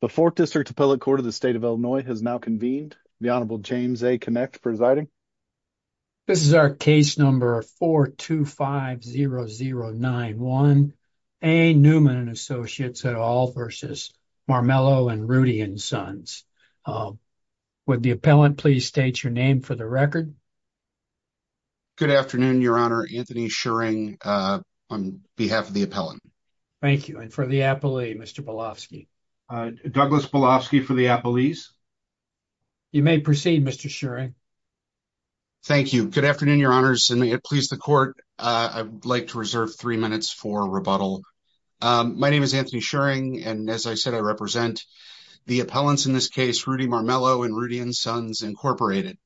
The Fourth District Appellate Court of the State of Illinois has now convened. The Honorable James A. Kinect presiding. This is our case number 4250091 A. Neumann & Associates, LLC v. Marmelo & Rudy & Sons. Would the appellant please state your name for the record? Good afternoon, Your Honor. Anthony Schering on behalf of the appellant. Thank you. And for the appellee, Mr. Bielofsky? Douglas Bielofsky for the appellees. You may proceed, Mr. Schering. Thank you. Good afternoon, Your Honors. And may it please the Court, I would like to reserve three minutes for rebuttal. My name is Anthony Schering, and as I said, I represent the appellants in this case, Rudy Marmelo & Rudy & Sons, Incorporated.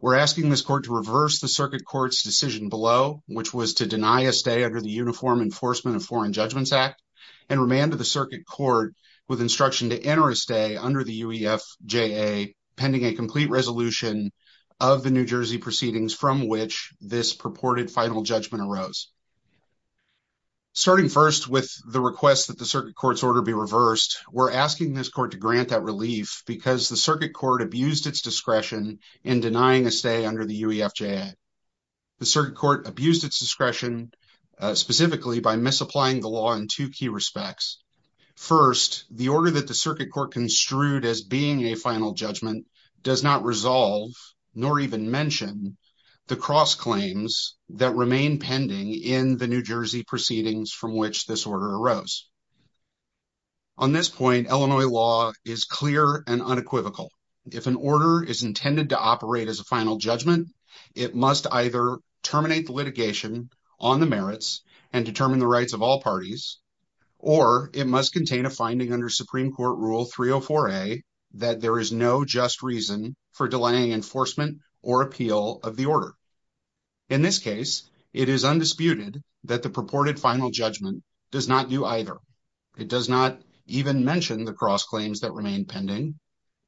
We're asking this Court to reverse the Circuit Court's decision below, which was to deny a stay under the Uniform Enforcement of Foreign Judgments Act, and remanded the Circuit Court with instruction to enter a stay under the UEFJA, pending a complete resolution of the New Jersey proceedings from which this purported final judgment arose. Starting first with the request that the Circuit Court's order be reversed, we're asking this Court to grant that relief because the Circuit Court abused its discretion in denying a stay under the UEFJA. The Circuit Court abused its discretion specifically by misapplying the law in two key respects. First, the order that the Circuit Court construed as being a final judgment does not resolve, nor even mention, the cross-claims that remain pending in the New Jersey proceedings from which this order arose. On this point, Illinois law is clear and unequivocal. If an order is intended to operate as a final judgment, it must either terminate the litigation on the merits and determine the rights of all parties, or it must contain a finding under Supreme Court Rule 304a that there is no just reason for delaying enforcement or appeal of the order. In this case, it is undisputed that the purported final judgment does not do either. It does not even mention the cross-claims that remain pending,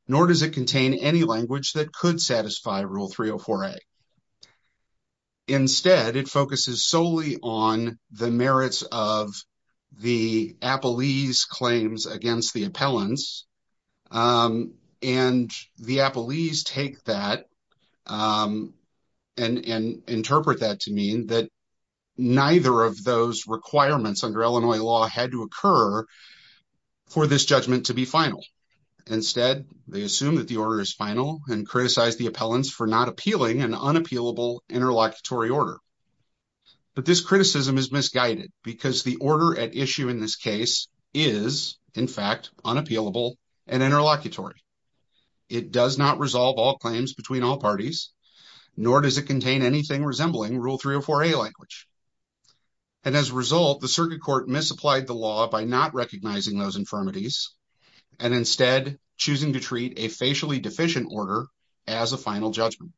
nor does it contain any language that could satisfy Rule 304a. Instead, it focuses solely on the merits of the claims against the appellants, and the appellees take that and interpret that to mean that neither of those requirements under Illinois law had to occur for this judgment to be final. Instead, they assume that the order is final and criticize the appellants for not appealing an unappealable interlocutory order. But this criticism is misguided because the order at issue in this case is in fact unappealable and interlocutory. It does not resolve all claims between all parties, nor does it contain anything resembling Rule 304a language. And as a result, the Circuit Court misapplied the law by not recognizing those infirmities and instead choosing to treat a facially deficient order as a final judgment.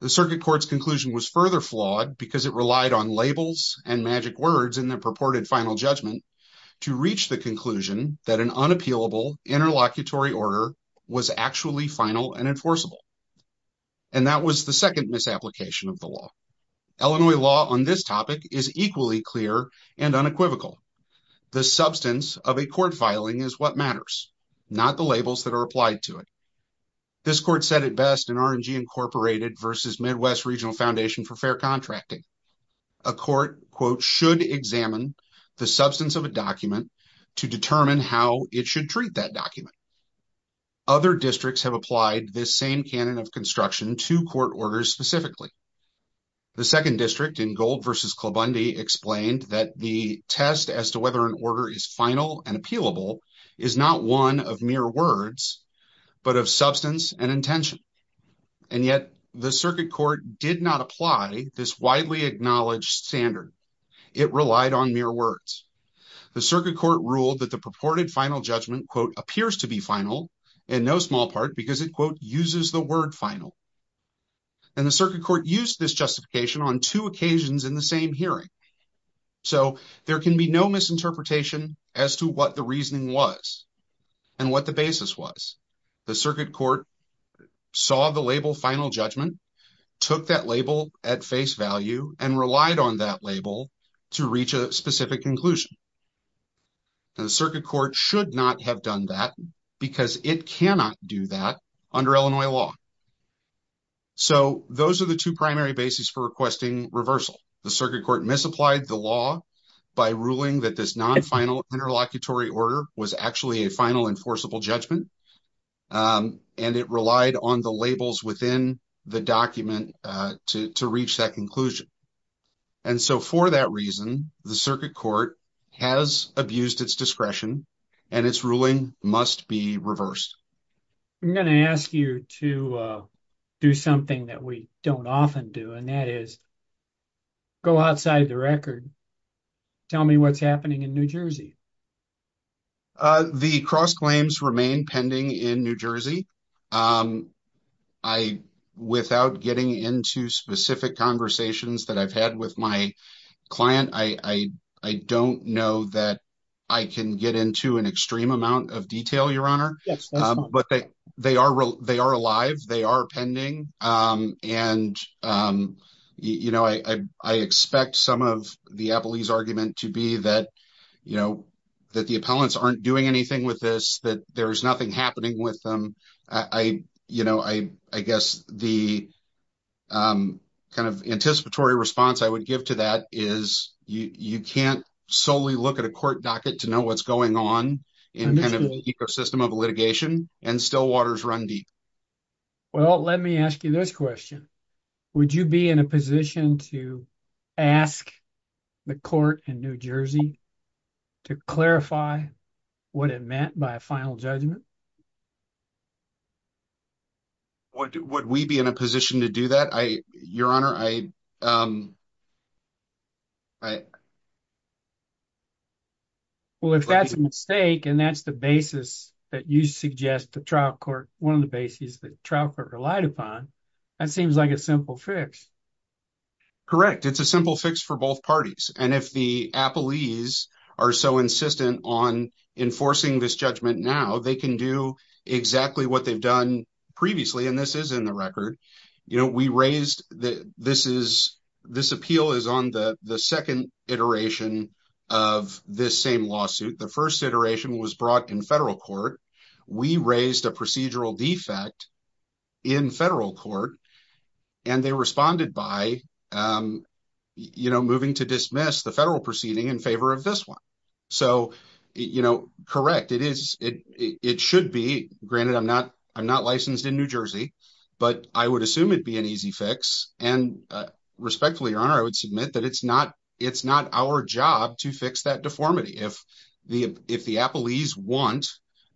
The Circuit Court's conclusion was further flawed because it relied on labels and magic words in purported final judgment to reach the conclusion that an unappealable interlocutory order was actually final and enforceable. And that was the second misapplication of the law. Illinois law on this topic is equally clear and unequivocal. The substance of a court filing is what matters, not the labels that are applied to it. This court said it best in R&G Incorporated versus Midwest Regional Foundation for Fair Contracting. A court, quote, should examine the substance of a document to determine how it should treat that document. Other districts have applied this same canon of construction to court orders specifically. The second district in Gold versus Klobundy explained that the test as to whether an order is final and appealable is not one of mere words but of substance and intention. And yet the Circuit Court did not apply this widely acknowledged standard. It relied on mere words. The Circuit Court ruled that the purported final judgment, quote, appears to be final in no small part because it, quote, uses the word final. And the Circuit Court used this justification on two occasions in the same hearing. So there can be no misinterpretation as to what the reasoning was and what the basis was. The Circuit Court saw the label final judgment, took that label at face value, and relied on that label to reach a specific conclusion. And the Circuit Court should not have done that because it cannot do that under Illinois law. So those are the two primary bases for requesting reversal. The Circuit Court misapplied the law by ruling that this non-final interlocutory order was actually a final enforceable judgment. And it relied on the labels within the document to reach that conclusion. And so for that reason, the Circuit Court has abused its discretion and its ruling must be reversed. I'm going to ask you to do something that we don't often do and that is go outside the record. Tell me what's happening in New Jersey. The cross claims remain pending in New Jersey. I, without getting into specific conversations that I've had with my client, I don't know that I can get into an extreme amount of detail, but they are alive, they are pending, and I expect some of the Appellee's argument to be that the appellants aren't doing anything with this, that there's nothing happening with them. I guess the anticipatory response I would give to that is you can't solely look at a system of litigation and still waters run deep. Well, let me ask you this question. Would you be in a position to ask the court in New Jersey to clarify what it meant by a final judgment? Would we be in a position to do that, Your Honor? Well, if that's a mistake, and that's the basis that you suggest to trial court, one of the bases that trial court relied upon, that seems like a simple fix. Correct. It's a simple fix for both parties. If the Appellees are so insistent on enforcing this judgment now, they can do exactly what they've done previously, and this is in the record. This appeal is on the second iteration of this same lawsuit. The first iteration was brought in federal court. We raised a procedural defect in federal court, and they responded by moving to dismiss the federal proceeding in favor of this one. Correct. It should be. Granted, I'm not licensed in New Jersey, but I would assume it'd be an easy fix, and respectfully, Your Honor, I would submit that it's not our job to fix that deformity. If the Appellees want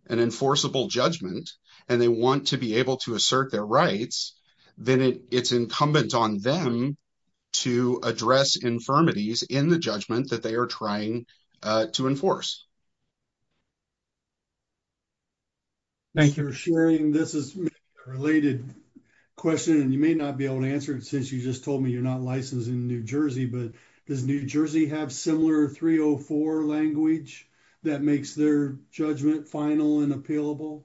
an enforceable judgment, and they want to be able to assert their rights, then it's incumbent on them to address infirmities in the judgment that they are trying to enforce. Thank you for sharing. This is a related question, and you may not be able to answer it since you just told me you're not licensed in New Jersey, but does New Jersey have similar 304 language that makes their judgment final and appealable?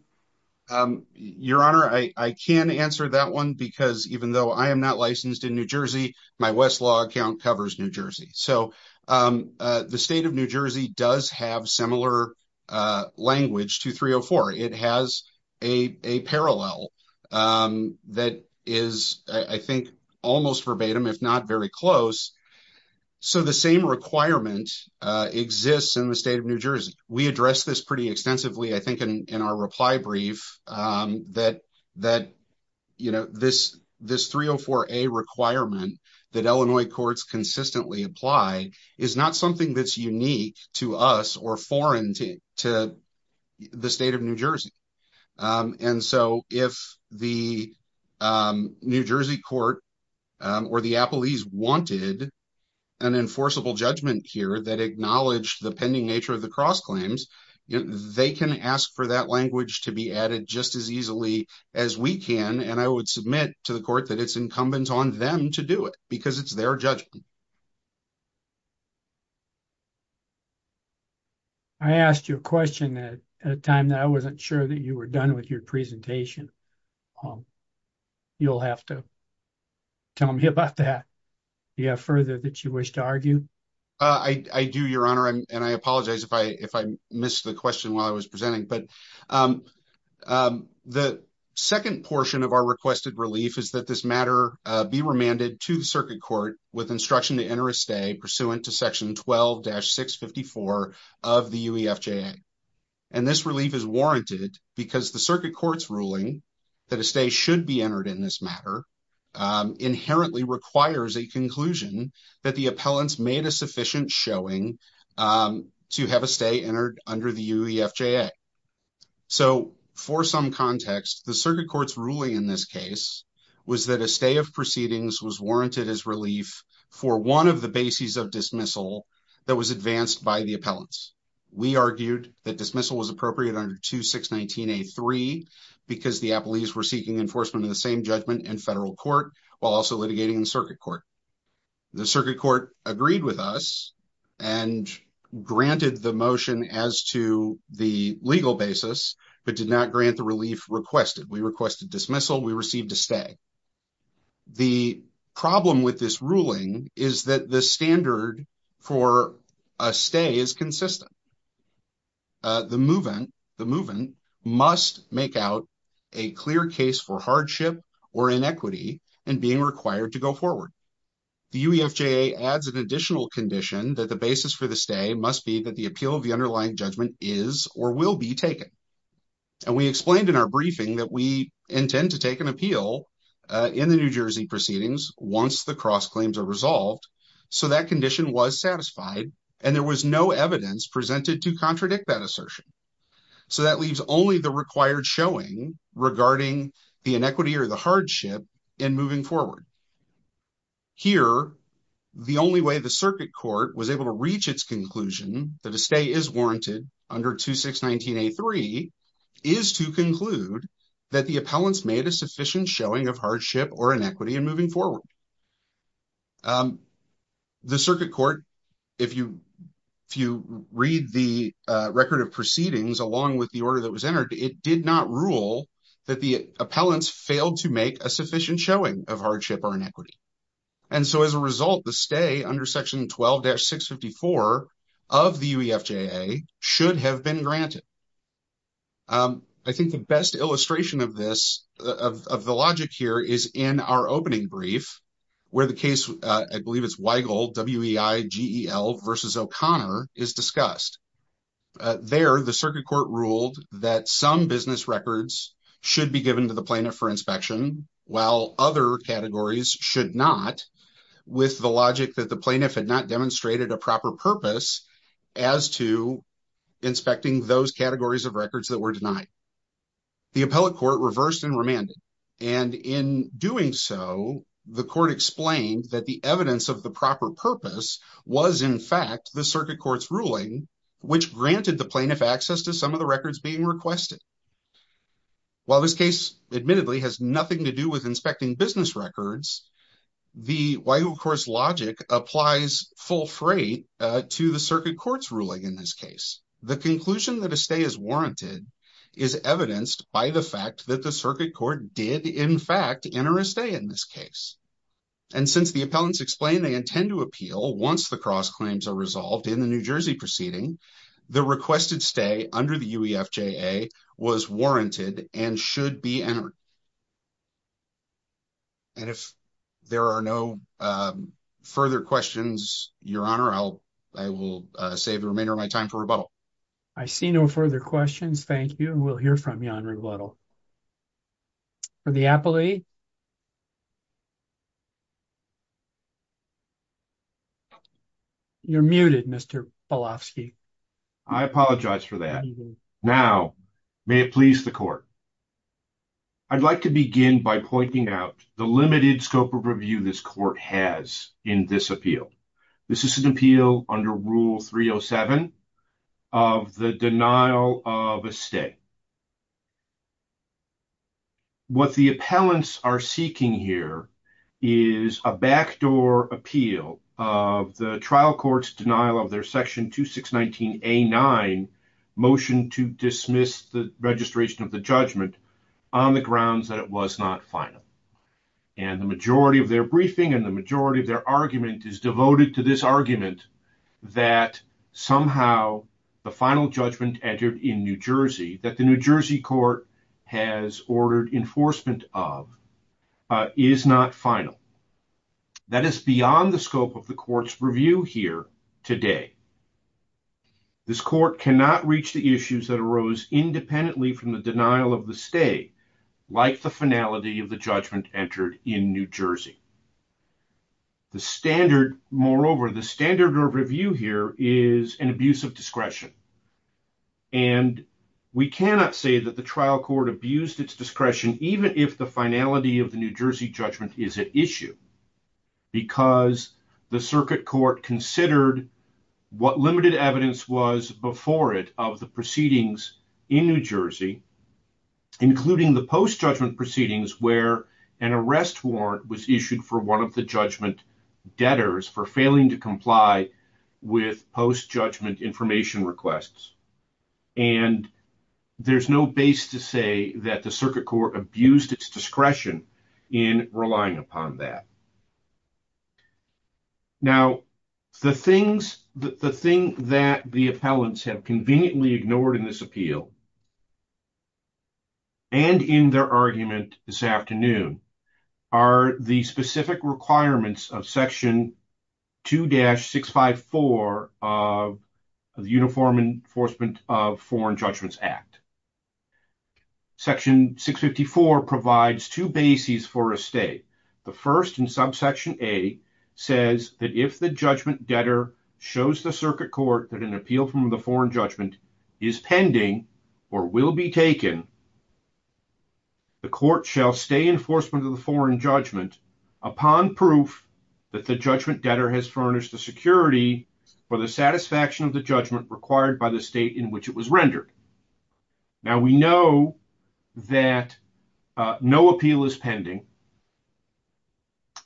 Your Honor, I can answer that one because even though I am not licensed in New Jersey, my Westlaw account covers New Jersey. The state of New Jersey does have similar language to 304. It has a parallel that is, I think, almost verbatim, if not very close. The same requirement exists in the state of New Jersey. We address this pretty extensively, I think, in our reply brief that this 304A requirement that Illinois courts consistently apply is not something that's unique to us or to the state of New Jersey. If the New Jersey court or the Appellees wanted an enforceable judgment here that acknowledged the pending nature of the cross claims, they can ask for that language to be added just as easily as we can, and I would submit to the court that it's incumbent on them to do it because it's their judgment. I asked you a question at a time that I wasn't sure that you were done with your presentation. You'll have to tell me about that. Do you have further that you wish to argue? I do, Your Honor, and I apologize if I missed the question while I was presenting. The second portion of our requested relief is that this matter be remanded to the circuit court with instruction to enter a stay pursuant to section 12-654 of the UEFJA, and this relief is warranted because the circuit court's ruling that a stay should be entered in this matter inherently requires a conclusion that the appellants made a sufficient showing to have a stay entered under the UEFJA. So, for some context, the circuit court's ruling in this case was that a stay of proceedings was warranted as relief for one of the bases of dismissal that was advanced by the appellants. We argued that dismissal was appropriate under 2619-A3 because the Appellees were seeking enforcement of the same judgment in federal court while also litigating in circuit court. The circuit court agreed with us and granted the motion as to the legal basis, but did not grant the relief requested. We requested dismissal. We received a stay. The problem with this ruling is that the standard for a stay is consistent. The move-in must make out a clear case for hardship or inequity in being required to go forward. The UEFJA adds an additional condition that the basis for the stay must be that the appeal of the underlying judgment is or will be taken, and we explained in our briefing that we intend to take an appeal in the New Jersey proceedings once the cross claims are resolved, so that condition was satisfied and there was no evidence presented to contradict that assertion. So, that leaves only the required showing regarding the inequity or the hardship in moving forward. Here, the only way the circuit court was able to reach its conclusion that a stay is warranted under 2619-A3 is to conclude that the appellants made a sufficient showing of hardship or inequity in moving forward. The circuit court, if you read the record of proceedings along with the order that was issued, did not rule that the appellants failed to make a sufficient showing of hardship or inequity. And so, as a result, the stay under section 12-654 of the UEFJA should have been granted. I think the best illustration of this, of the logic here, is in our opening brief, where the case, I believe it's Weigel, W-E-I-G-E-L versus O'Connor, is discussed. There, the circuit court ruled that some business records should be given to the plaintiff for inspection, while other categories should not, with the logic that the plaintiff had not demonstrated a proper purpose as to inspecting those categories of records that were denied. The appellate court reversed and remanded, and in doing so, the court explained that the evidence of the proper purpose was, in fact, the circuit court's ruling, which granted the plaintiff access to some of the records being requested. While this case, admittedly, has nothing to do with inspecting business records, the Weigel Court's logic applies full freight to the circuit court's ruling in this case. The conclusion that a stay is warranted is evidenced by the fact that the court did, in fact, enter a stay in this case. And since the appellants explain they intend to appeal once the cross claims are resolved in the New Jersey proceeding, the requested stay under the UEFJA was warranted and should be entered. And if there are no further questions, Your Honor, I will save the remainder of my time for rebuttal. I see no further questions. Thank you, and we'll hear from you on rebuttal. For the appellee. You're muted, Mr. Polofsky. I apologize for that. Now, may it please the court. I'd like to begin by pointing out the limited scope of review this court has in this appeal. This is an appeal under Rule 307 of the denial of a stay. What the appellants are seeking here is a backdoor appeal of the trial court's denial of their Section 2619A-9 motion to dismiss the registration of the judgment on the grounds that it was not final. And the majority of their briefing and the majority of their argument is devoted to this argument that somehow the final judgment entered in New Jersey, that the New Jersey court has ordered enforcement of, is not final. That is beyond the scope of the court's review here today. This court cannot reach the issues that arose independently from the denial of the stay, like the finality of the judgment entered in New Jersey. The standard, moreover, the standard of review here is an abuse of discretion. And we cannot say that the trial court abused its discretion, even if the finality of the New Jersey judgment is at issue, because the circuit court considered what limited evidence was before it of the proceedings in New Jersey, including the post-judgment proceedings where an arrest warrant was issued for one of the judgment debtors for failing to comply with post-judgment information requests. And there's no base to say that the circuit court abused its discretion in relying upon that. Now, the thing that the appellants have conveniently ignored in this appeal and in their argument this afternoon are the specific requirements of Section 2-654 of the Uniform Enforcement of Foreign Judgments Act. Section 654 provides two bases for a stay. The first in subsection A says that if the judgment debtor shows the circuit court that an appeal from the foreign judgment is pending or will be taken, the court shall stay enforcement of the foreign judgment upon proof that the judgment debtor has furnished the security for the satisfaction of the judgment required by the state in which it was rendered. Now, we know that no appeal is pending,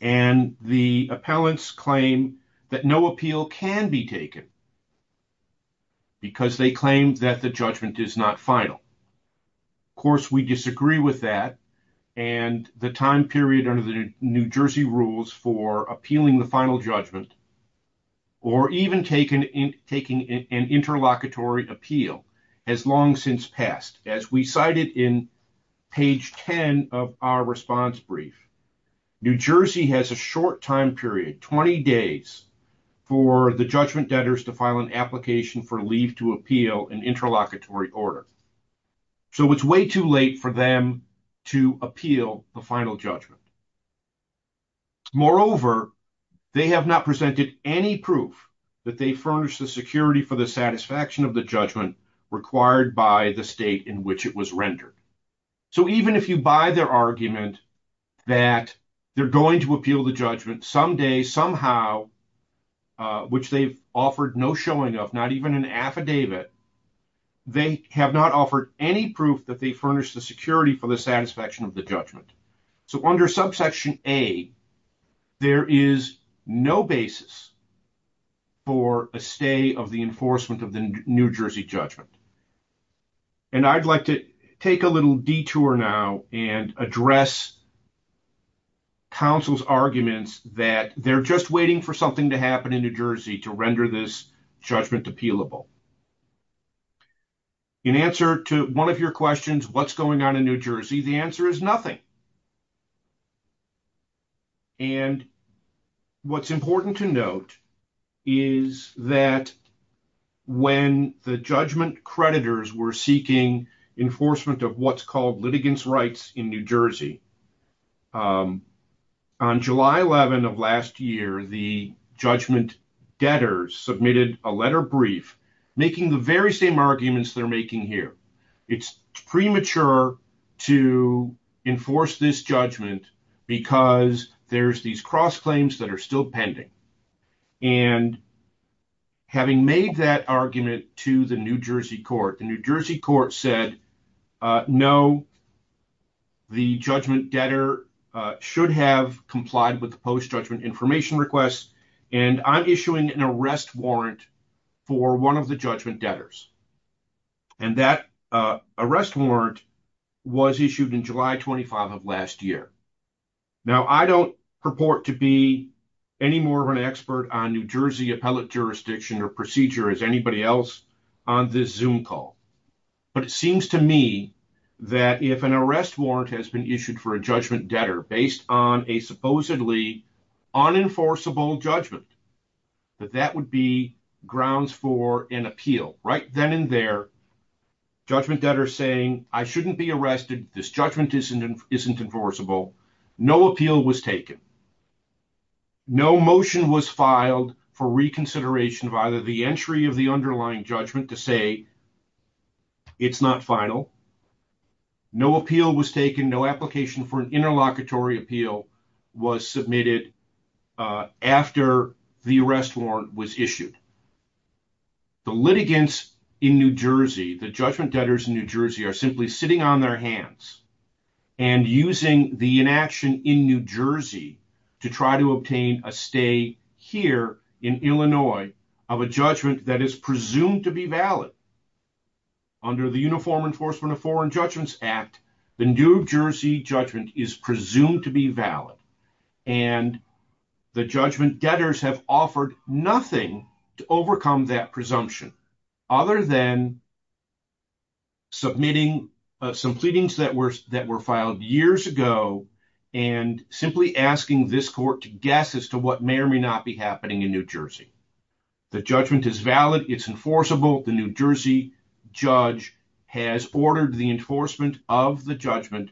and the appellants claim that no appeal can be taken because they claim that the judgment is not final. Of course, we disagree with that, and the time period under the New Jersey rules for appealing the final judgment, or even taking an interlocutory appeal, has long since passed. As we cited in page 10 of our response brief, New Jersey has a short time period, 20 days, for the judgment debtors to file an application for leave to appeal an interlocutory order. So, it's way too late for them to appeal the final judgment. Moreover, they have not presented any proof that they furnished the security for the judgment required by the state in which it was rendered. So, even if you buy their argument that they're going to appeal the judgment someday, somehow, which they've offered no showing of, not even an affidavit, they have not offered any proof that they furnished the security for the satisfaction of the judgment. So, under subsection A, there is no basis for a stay of the enforcement of the New Jersey judgment. And I'd like to take a little detour now and address counsel's arguments that they're just waiting for something to happen in New Jersey to render this judgment appealable. In answer to one of your questions, what's going on in New Jersey, the answer is nothing. And what's important to note is that when the judgment creditors were seeking enforcement of what's called litigants' rights in New Jersey, on July 11 of last year, the judgment debtors submitted a letter brief making the very same arguments they're making here. It's premature to enforce this judgment because there's these cross-claims that are still pending. And having made that argument to the New Jersey court, the New Jersey court said, no, the judgment debtor should have complied with the post-judgment information request, and I'm issuing an arrest warrant for one of the judgment debtors. And that arrest warrant was issued on July 25 of last year. Now, I don't purport to be any more of an expert on New Jersey appellate jurisdiction or procedure as anybody else on this Zoom call. But it seems to me that if an arrest warrant has been issued for a judgment that that would be grounds for an appeal. Right then and there, judgment debtors saying, I shouldn't be arrested. This judgment isn't enforceable. No appeal was taken. No motion was filed for reconsideration of either the entry of the underlying judgment to say it's not final. No appeal was taken. No application for an interlocutory appeal was submitted after the arrest warrant was issued. The litigants in New Jersey, the judgment debtors in New Jersey are simply sitting on their hands and using the inaction in New Jersey to try to obtain a stay here in Illinois of a judgment that is presumed to be valid. Under the Uniform Enforcement of Foreign Judgments Act, the New Jersey judgment is presumed to be valid. And the judgment debtors have offered nothing to overcome that presumption, other than submitting some pleadings that were that were filed years ago, and simply asking this court to guess as to what may or may not be happening in New Jersey. The judgment is valid. It's enforceable. The New Jersey judge has ordered the enforcement of the judgment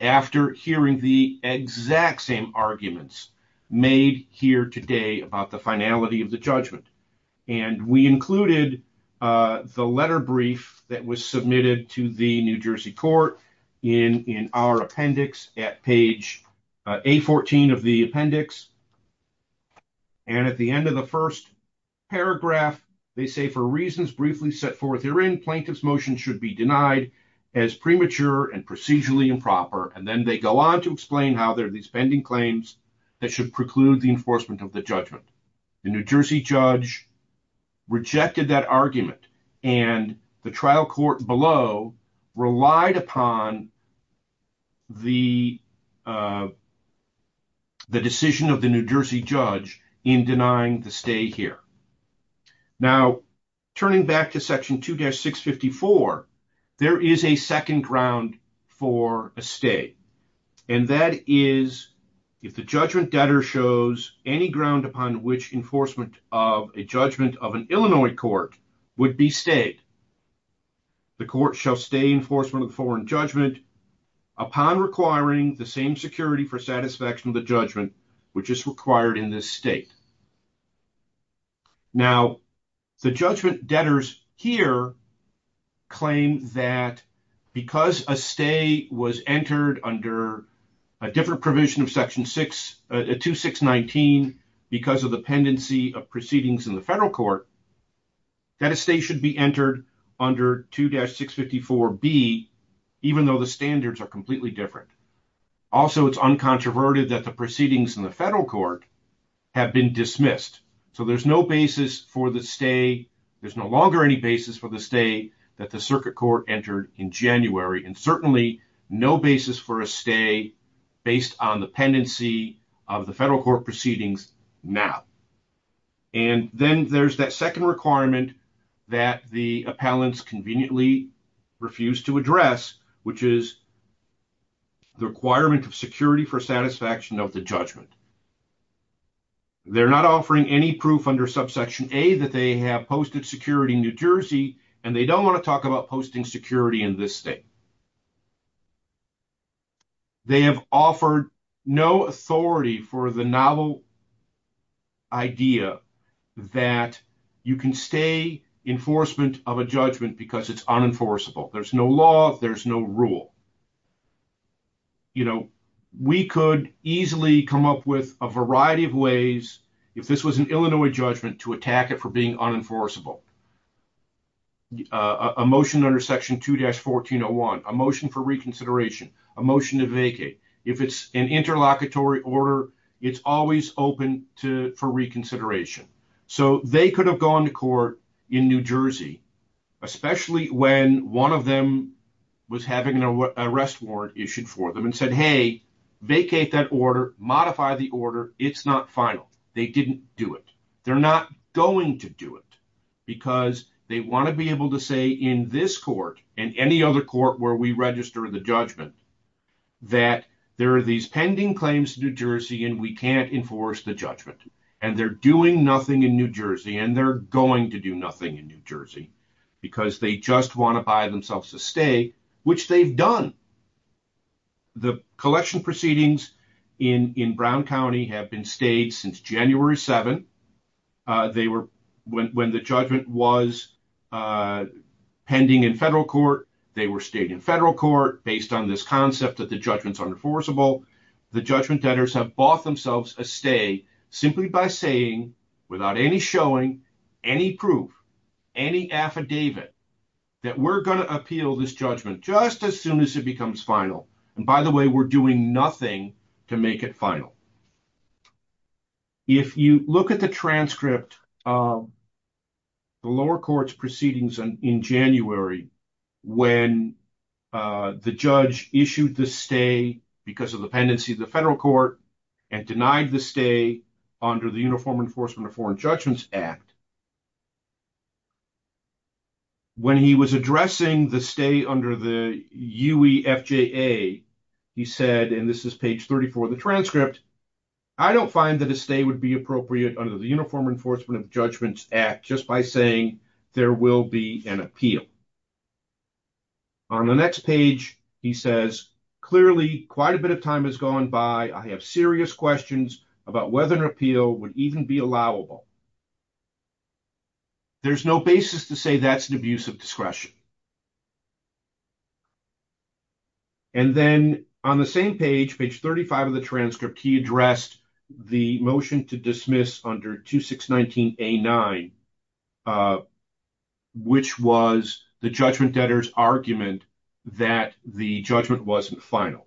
after hearing the exact same arguments made here today about the finality of the judgment. And we included the letter brief that was submitted to the New Jersey court in our appendix at page A14 of the appendix. And at the end of the first paragraph, they say for reasons briefly set forth herein, plaintiff's motion should be denied as premature and procedurally improper. And then they go on to explain how there are these pending claims that should preclude the enforcement of the judgment. The New Jersey judge rejected that argument, and the trial court below relied upon the decision of the New Jersey judge in denying the stay here. Now, turning back to section 2-654, there is a second ground for a stay. And that is, if the judgment debtor shows any ground upon which enforcement of a judgment of an Illinois court would be stayed, the court shall stay enforcement of the foreign judgment upon requiring the same security for satisfaction of the judgment which is required in this state. Now, the judgment debtors here claim that because a stay was entered under a different provision of section 2-619 because of the pendency of proceedings in the federal court, that a stay should be entered under 2-654B, even though the standards are completely different. Also, it's uncontroverted that the proceedings in the federal court have been dismissed. So, no basis for the stay, there's no longer any basis for the stay that the circuit court entered in January, and certainly no basis for a stay based on the pendency of the federal court proceedings now. And then there's that second requirement that the appellants conveniently refuse to address, which is the requirement of security for satisfaction of the judgment. They're not offering any proof under subsection A that they have posted security in New Jersey, and they don't want to talk about posting security in this state. They have offered no authority for the novel idea that you can stay enforcement of a judgment because it's unenforceable. There's no law, there's no rule. We could easily come up with a variety of ways, if this was an Illinois judgment, to attack it for being unenforceable. A motion under section 2-1401, a motion for reconsideration, a motion to vacate. If it's an interlocutory order, it's always open for reconsideration. So, they could have gone to court in New Jersey, especially when one of them was having an arrest warrant issued for them and said, hey, vacate that order, modify the order, it's not final. They didn't do it. They're not going to do it because they want to be able to say in this court and any other court where we register the judgment that there are these pending claims to New Jersey and we can't enforce the judgment. And they're doing nothing in New Jersey, and they're going to do nothing in New Jersey because they just want to buy themselves a stay, which they've done. The collection proceedings in Brown County have been stayed since January 7. They were, when the judgment was pending in federal court, they were stayed in federal court based on this concept that the judgment's unenforceable. The judgment debtors have bought themselves a stay simply by saying, without any showing, any proof, any affidavit, that we're going to appeal this judgment just as soon as it becomes final. And by the way, we're doing nothing to make it final. If you look at the transcript of the lower court's proceedings in January, when the judge issued the stay because of the pendency of the federal court and denied the stay under the Uniform Enforcement of Foreign Judgments Act, when he was addressing the stay under the UEFJA, he said, and this is page 34 of the transcript, I don't find that a stay would be appropriate under the Uniform Enforcement of Judgments Act just by saying there will be an appeal. On the next page, he says, clearly quite a bit of time has gone by. I have serious questions about whether an appeal would even be allowable. There's no basis to say that's an abuse of discretion. And then on the same page, page 35 of the transcript, he addressed the motion to dismiss under 2619A9, which was the judgment debtors' argument that the judgment wasn't final.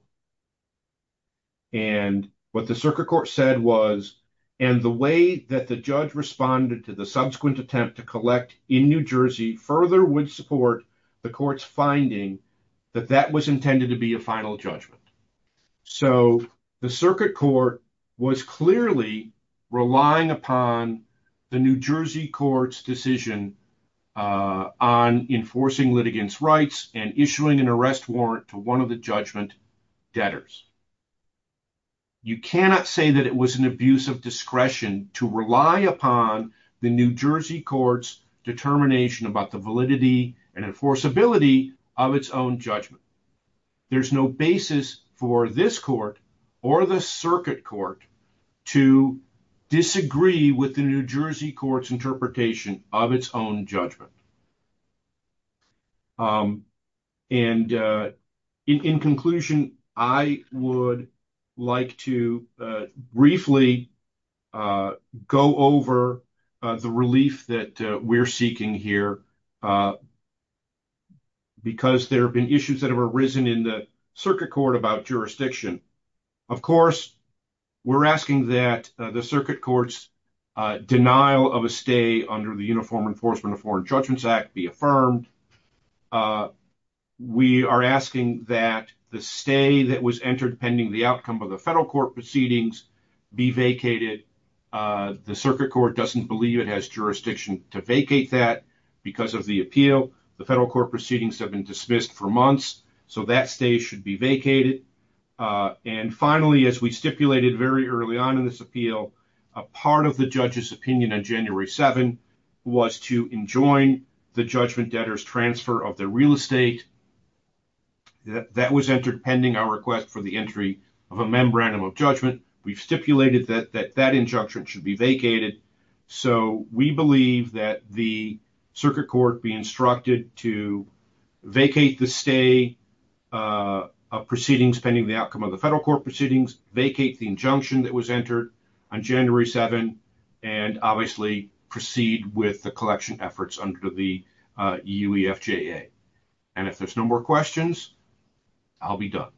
And what the circuit court said was, and the way that the judge responded to the subsequent attempt to collect in New Jersey further would support the court's finding that that was intended to be a final judgment. So the circuit court was clearly relying upon the New Jersey court's decision on enforcing litigants' rights and issuing an arrest warrant to one of the judgment debtors. You cannot say that it was an abuse of discretion to rely upon the New Jersey court's determination about the validity and enforceability of its own judgment. There's no basis for this court or the circuit court to disagree with the New Jersey court's interpretation of its own judgment. And in conclusion, I would like to briefly go over the relief that we're seeking here because there have been issues that have arisen in the circuit court about jurisdiction. Of course, we're asking that the circuit court's denial of a stay under the Uniform Enforcement of Foreign Judgments Act be affirmed. We are asking that the stay that was entered pending the outcome of the federal court proceedings be vacated. The circuit court doesn't believe it has jurisdiction to vacate that because of the appeal. The federal court proceedings have been dismissed for months, so that stay should be vacated. And finally, as we stipulated very early on in this appeal, a part of the judge's opinion on January 7 was to enjoin the judgment debtors' transfer of their real estate. That was entered pending our request for the entry of a Membranum of Judgment. We've stipulated that that injunction should be vacated, so we believe that the circuit court be instructed to vacate the stay of proceedings pending the outcome of the federal court proceedings, vacate the injunction that was entered on January 7, and obviously proceed with the collection efforts under the EUFJA. And if there's no more questions, I'll be done.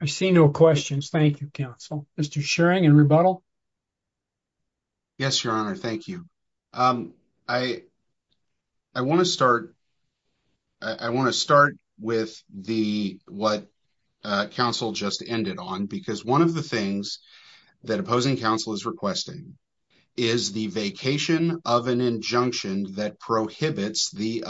I see no questions. Thank you, counsel. Mr. Schering in rebuttal. Yes, Your Honor. Thank you. I want to start with what counsel just ended on, because one of the things that opposing counsel is requesting is the vacation of an injunction that prohibits the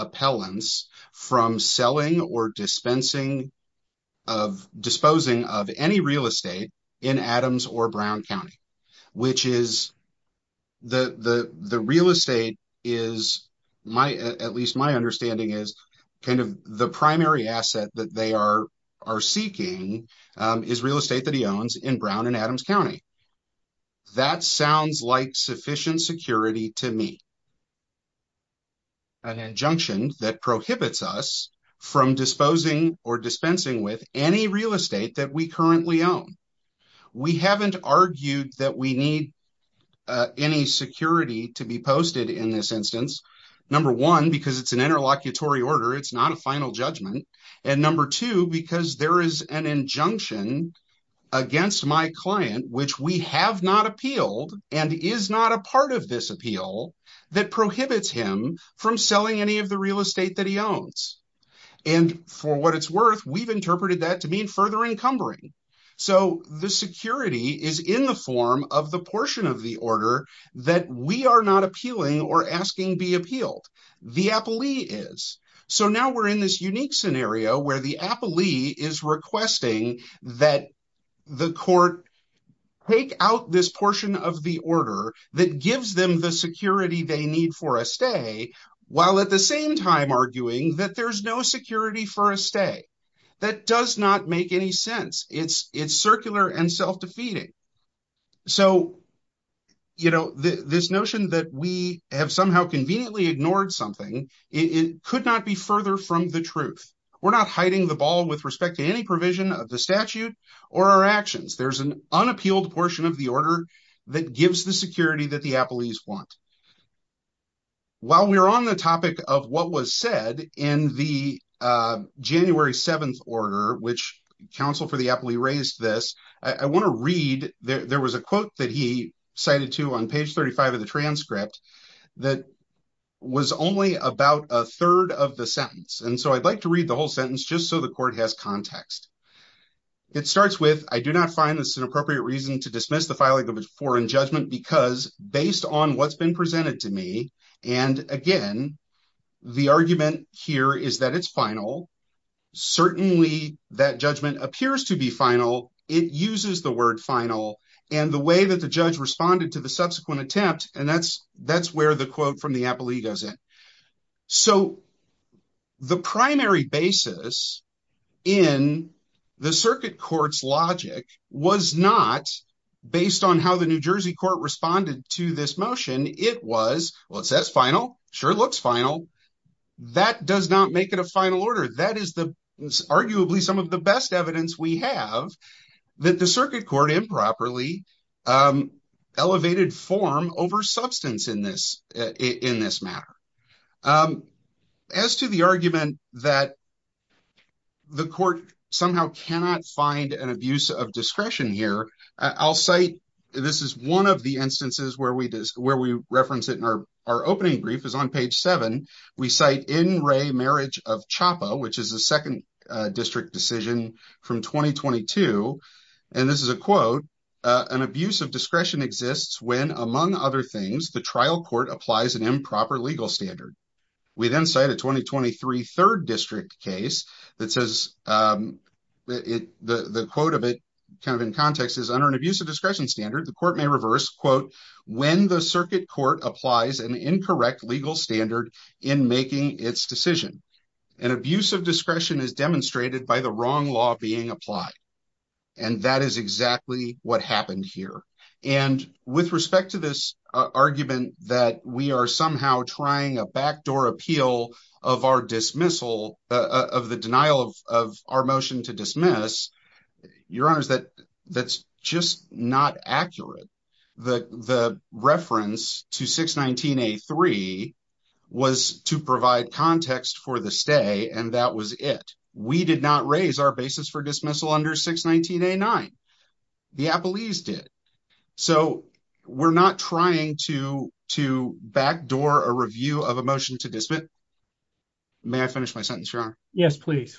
which is the real estate is, at least my understanding, is kind of the primary asset that they are seeking is real estate that he owns in Brown and Adams County. That sounds like sufficient security to me. An injunction that prohibits us from disposing or dispensing with any real estate that we currently own. We haven't argued that we need any security to be posted in this instance. Number one, because it's an interlocutory order, it's not a final judgment. And number two, because there is an injunction against my client, which we have not appealed and is not a part of this appeal that prohibits him from selling any real estate that he owns. And for what it's worth, we've interpreted that to mean further encumbering. So the security is in the form of the portion of the order that we are not appealing or asking be appealed. The appellee is. So now we're in this unique scenario where the appellee is requesting that the court take out this portion of the order that gives them the security they need for a stay, while at the same time arguing that there's no security for a stay. That does not make any sense. It's circular and self-defeating. So this notion that we have somehow conveniently ignored something, it could not be further from the truth. We're not hiding the ball with respect to any provision of the statute or our actions. There's an unappealed portion of the order that gives the security that the appellees want. While we're on the topic of what was said in the January 7th order, which counsel for the appellee raised this, I want to read. There was a quote that he cited to on page 35 of the transcript that was only about a third of the sentence. And so I'd like to read the whole sentence just so the court has context. It starts with, I do not find this an appropriate reason to dismiss the filing of a foreign judgment because based on what's been presented to me, and again, the argument here is that it's final, certainly that judgment appears to be final, it uses the word final, and the way that the judge responded to the subsequent attempt, and that's where the quote from the appellee goes in. So the primary basis in the circuit court's logic was not based on how the New Jersey court responded to this motion. It was, well, it says final, sure it looks final. That does not make it a final order. That is arguably some of the best evidence we have that the circuit court improperly elevated form over substance in this matter. As to the argument that the court somehow cannot find an abuse of discretion here, I'll cite, this is one of the instances where we reference it in our opening brief is on page seven. We cite in CHOPPA, which is the second district decision from 2022, and this is a quote, an abuse of discretion exists when, among other things, the trial court applies an improper legal standard. We then cite a 2023 third district case that says, the quote of it kind of in context is under an abuse of discretion standard, the court may reverse, quote, when the circuit court applies an incorrect legal standard in making its decision. An abuse of discretion is demonstrated by the wrong law being applied. And that is exactly what happened here. And with respect to this argument that we are somehow trying a backdoor appeal of our dismissal of the denial of our to dismiss, your honors, that's just not accurate. The reference to 619A3 was to provide context for the stay, and that was it. We did not raise our basis for dismissal under 619A9. The Appellees did. So we're not trying to backdoor a review of a motion to dismiss. May I finish my sentence, your honor? Yes, please.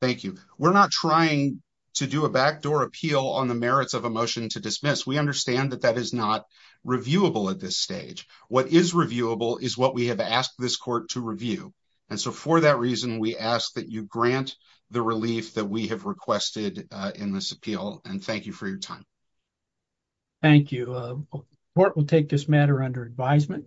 Thank you. We're not trying to do a backdoor appeal on the merits of a motion to dismiss. We understand that that is not reviewable at this stage. What is reviewable is what we have asked this court to review. And so for that reason, we ask that you grant the relief that we have requested in this appeal, and thank you for your time. Thank you. The court will take this matter under advisement.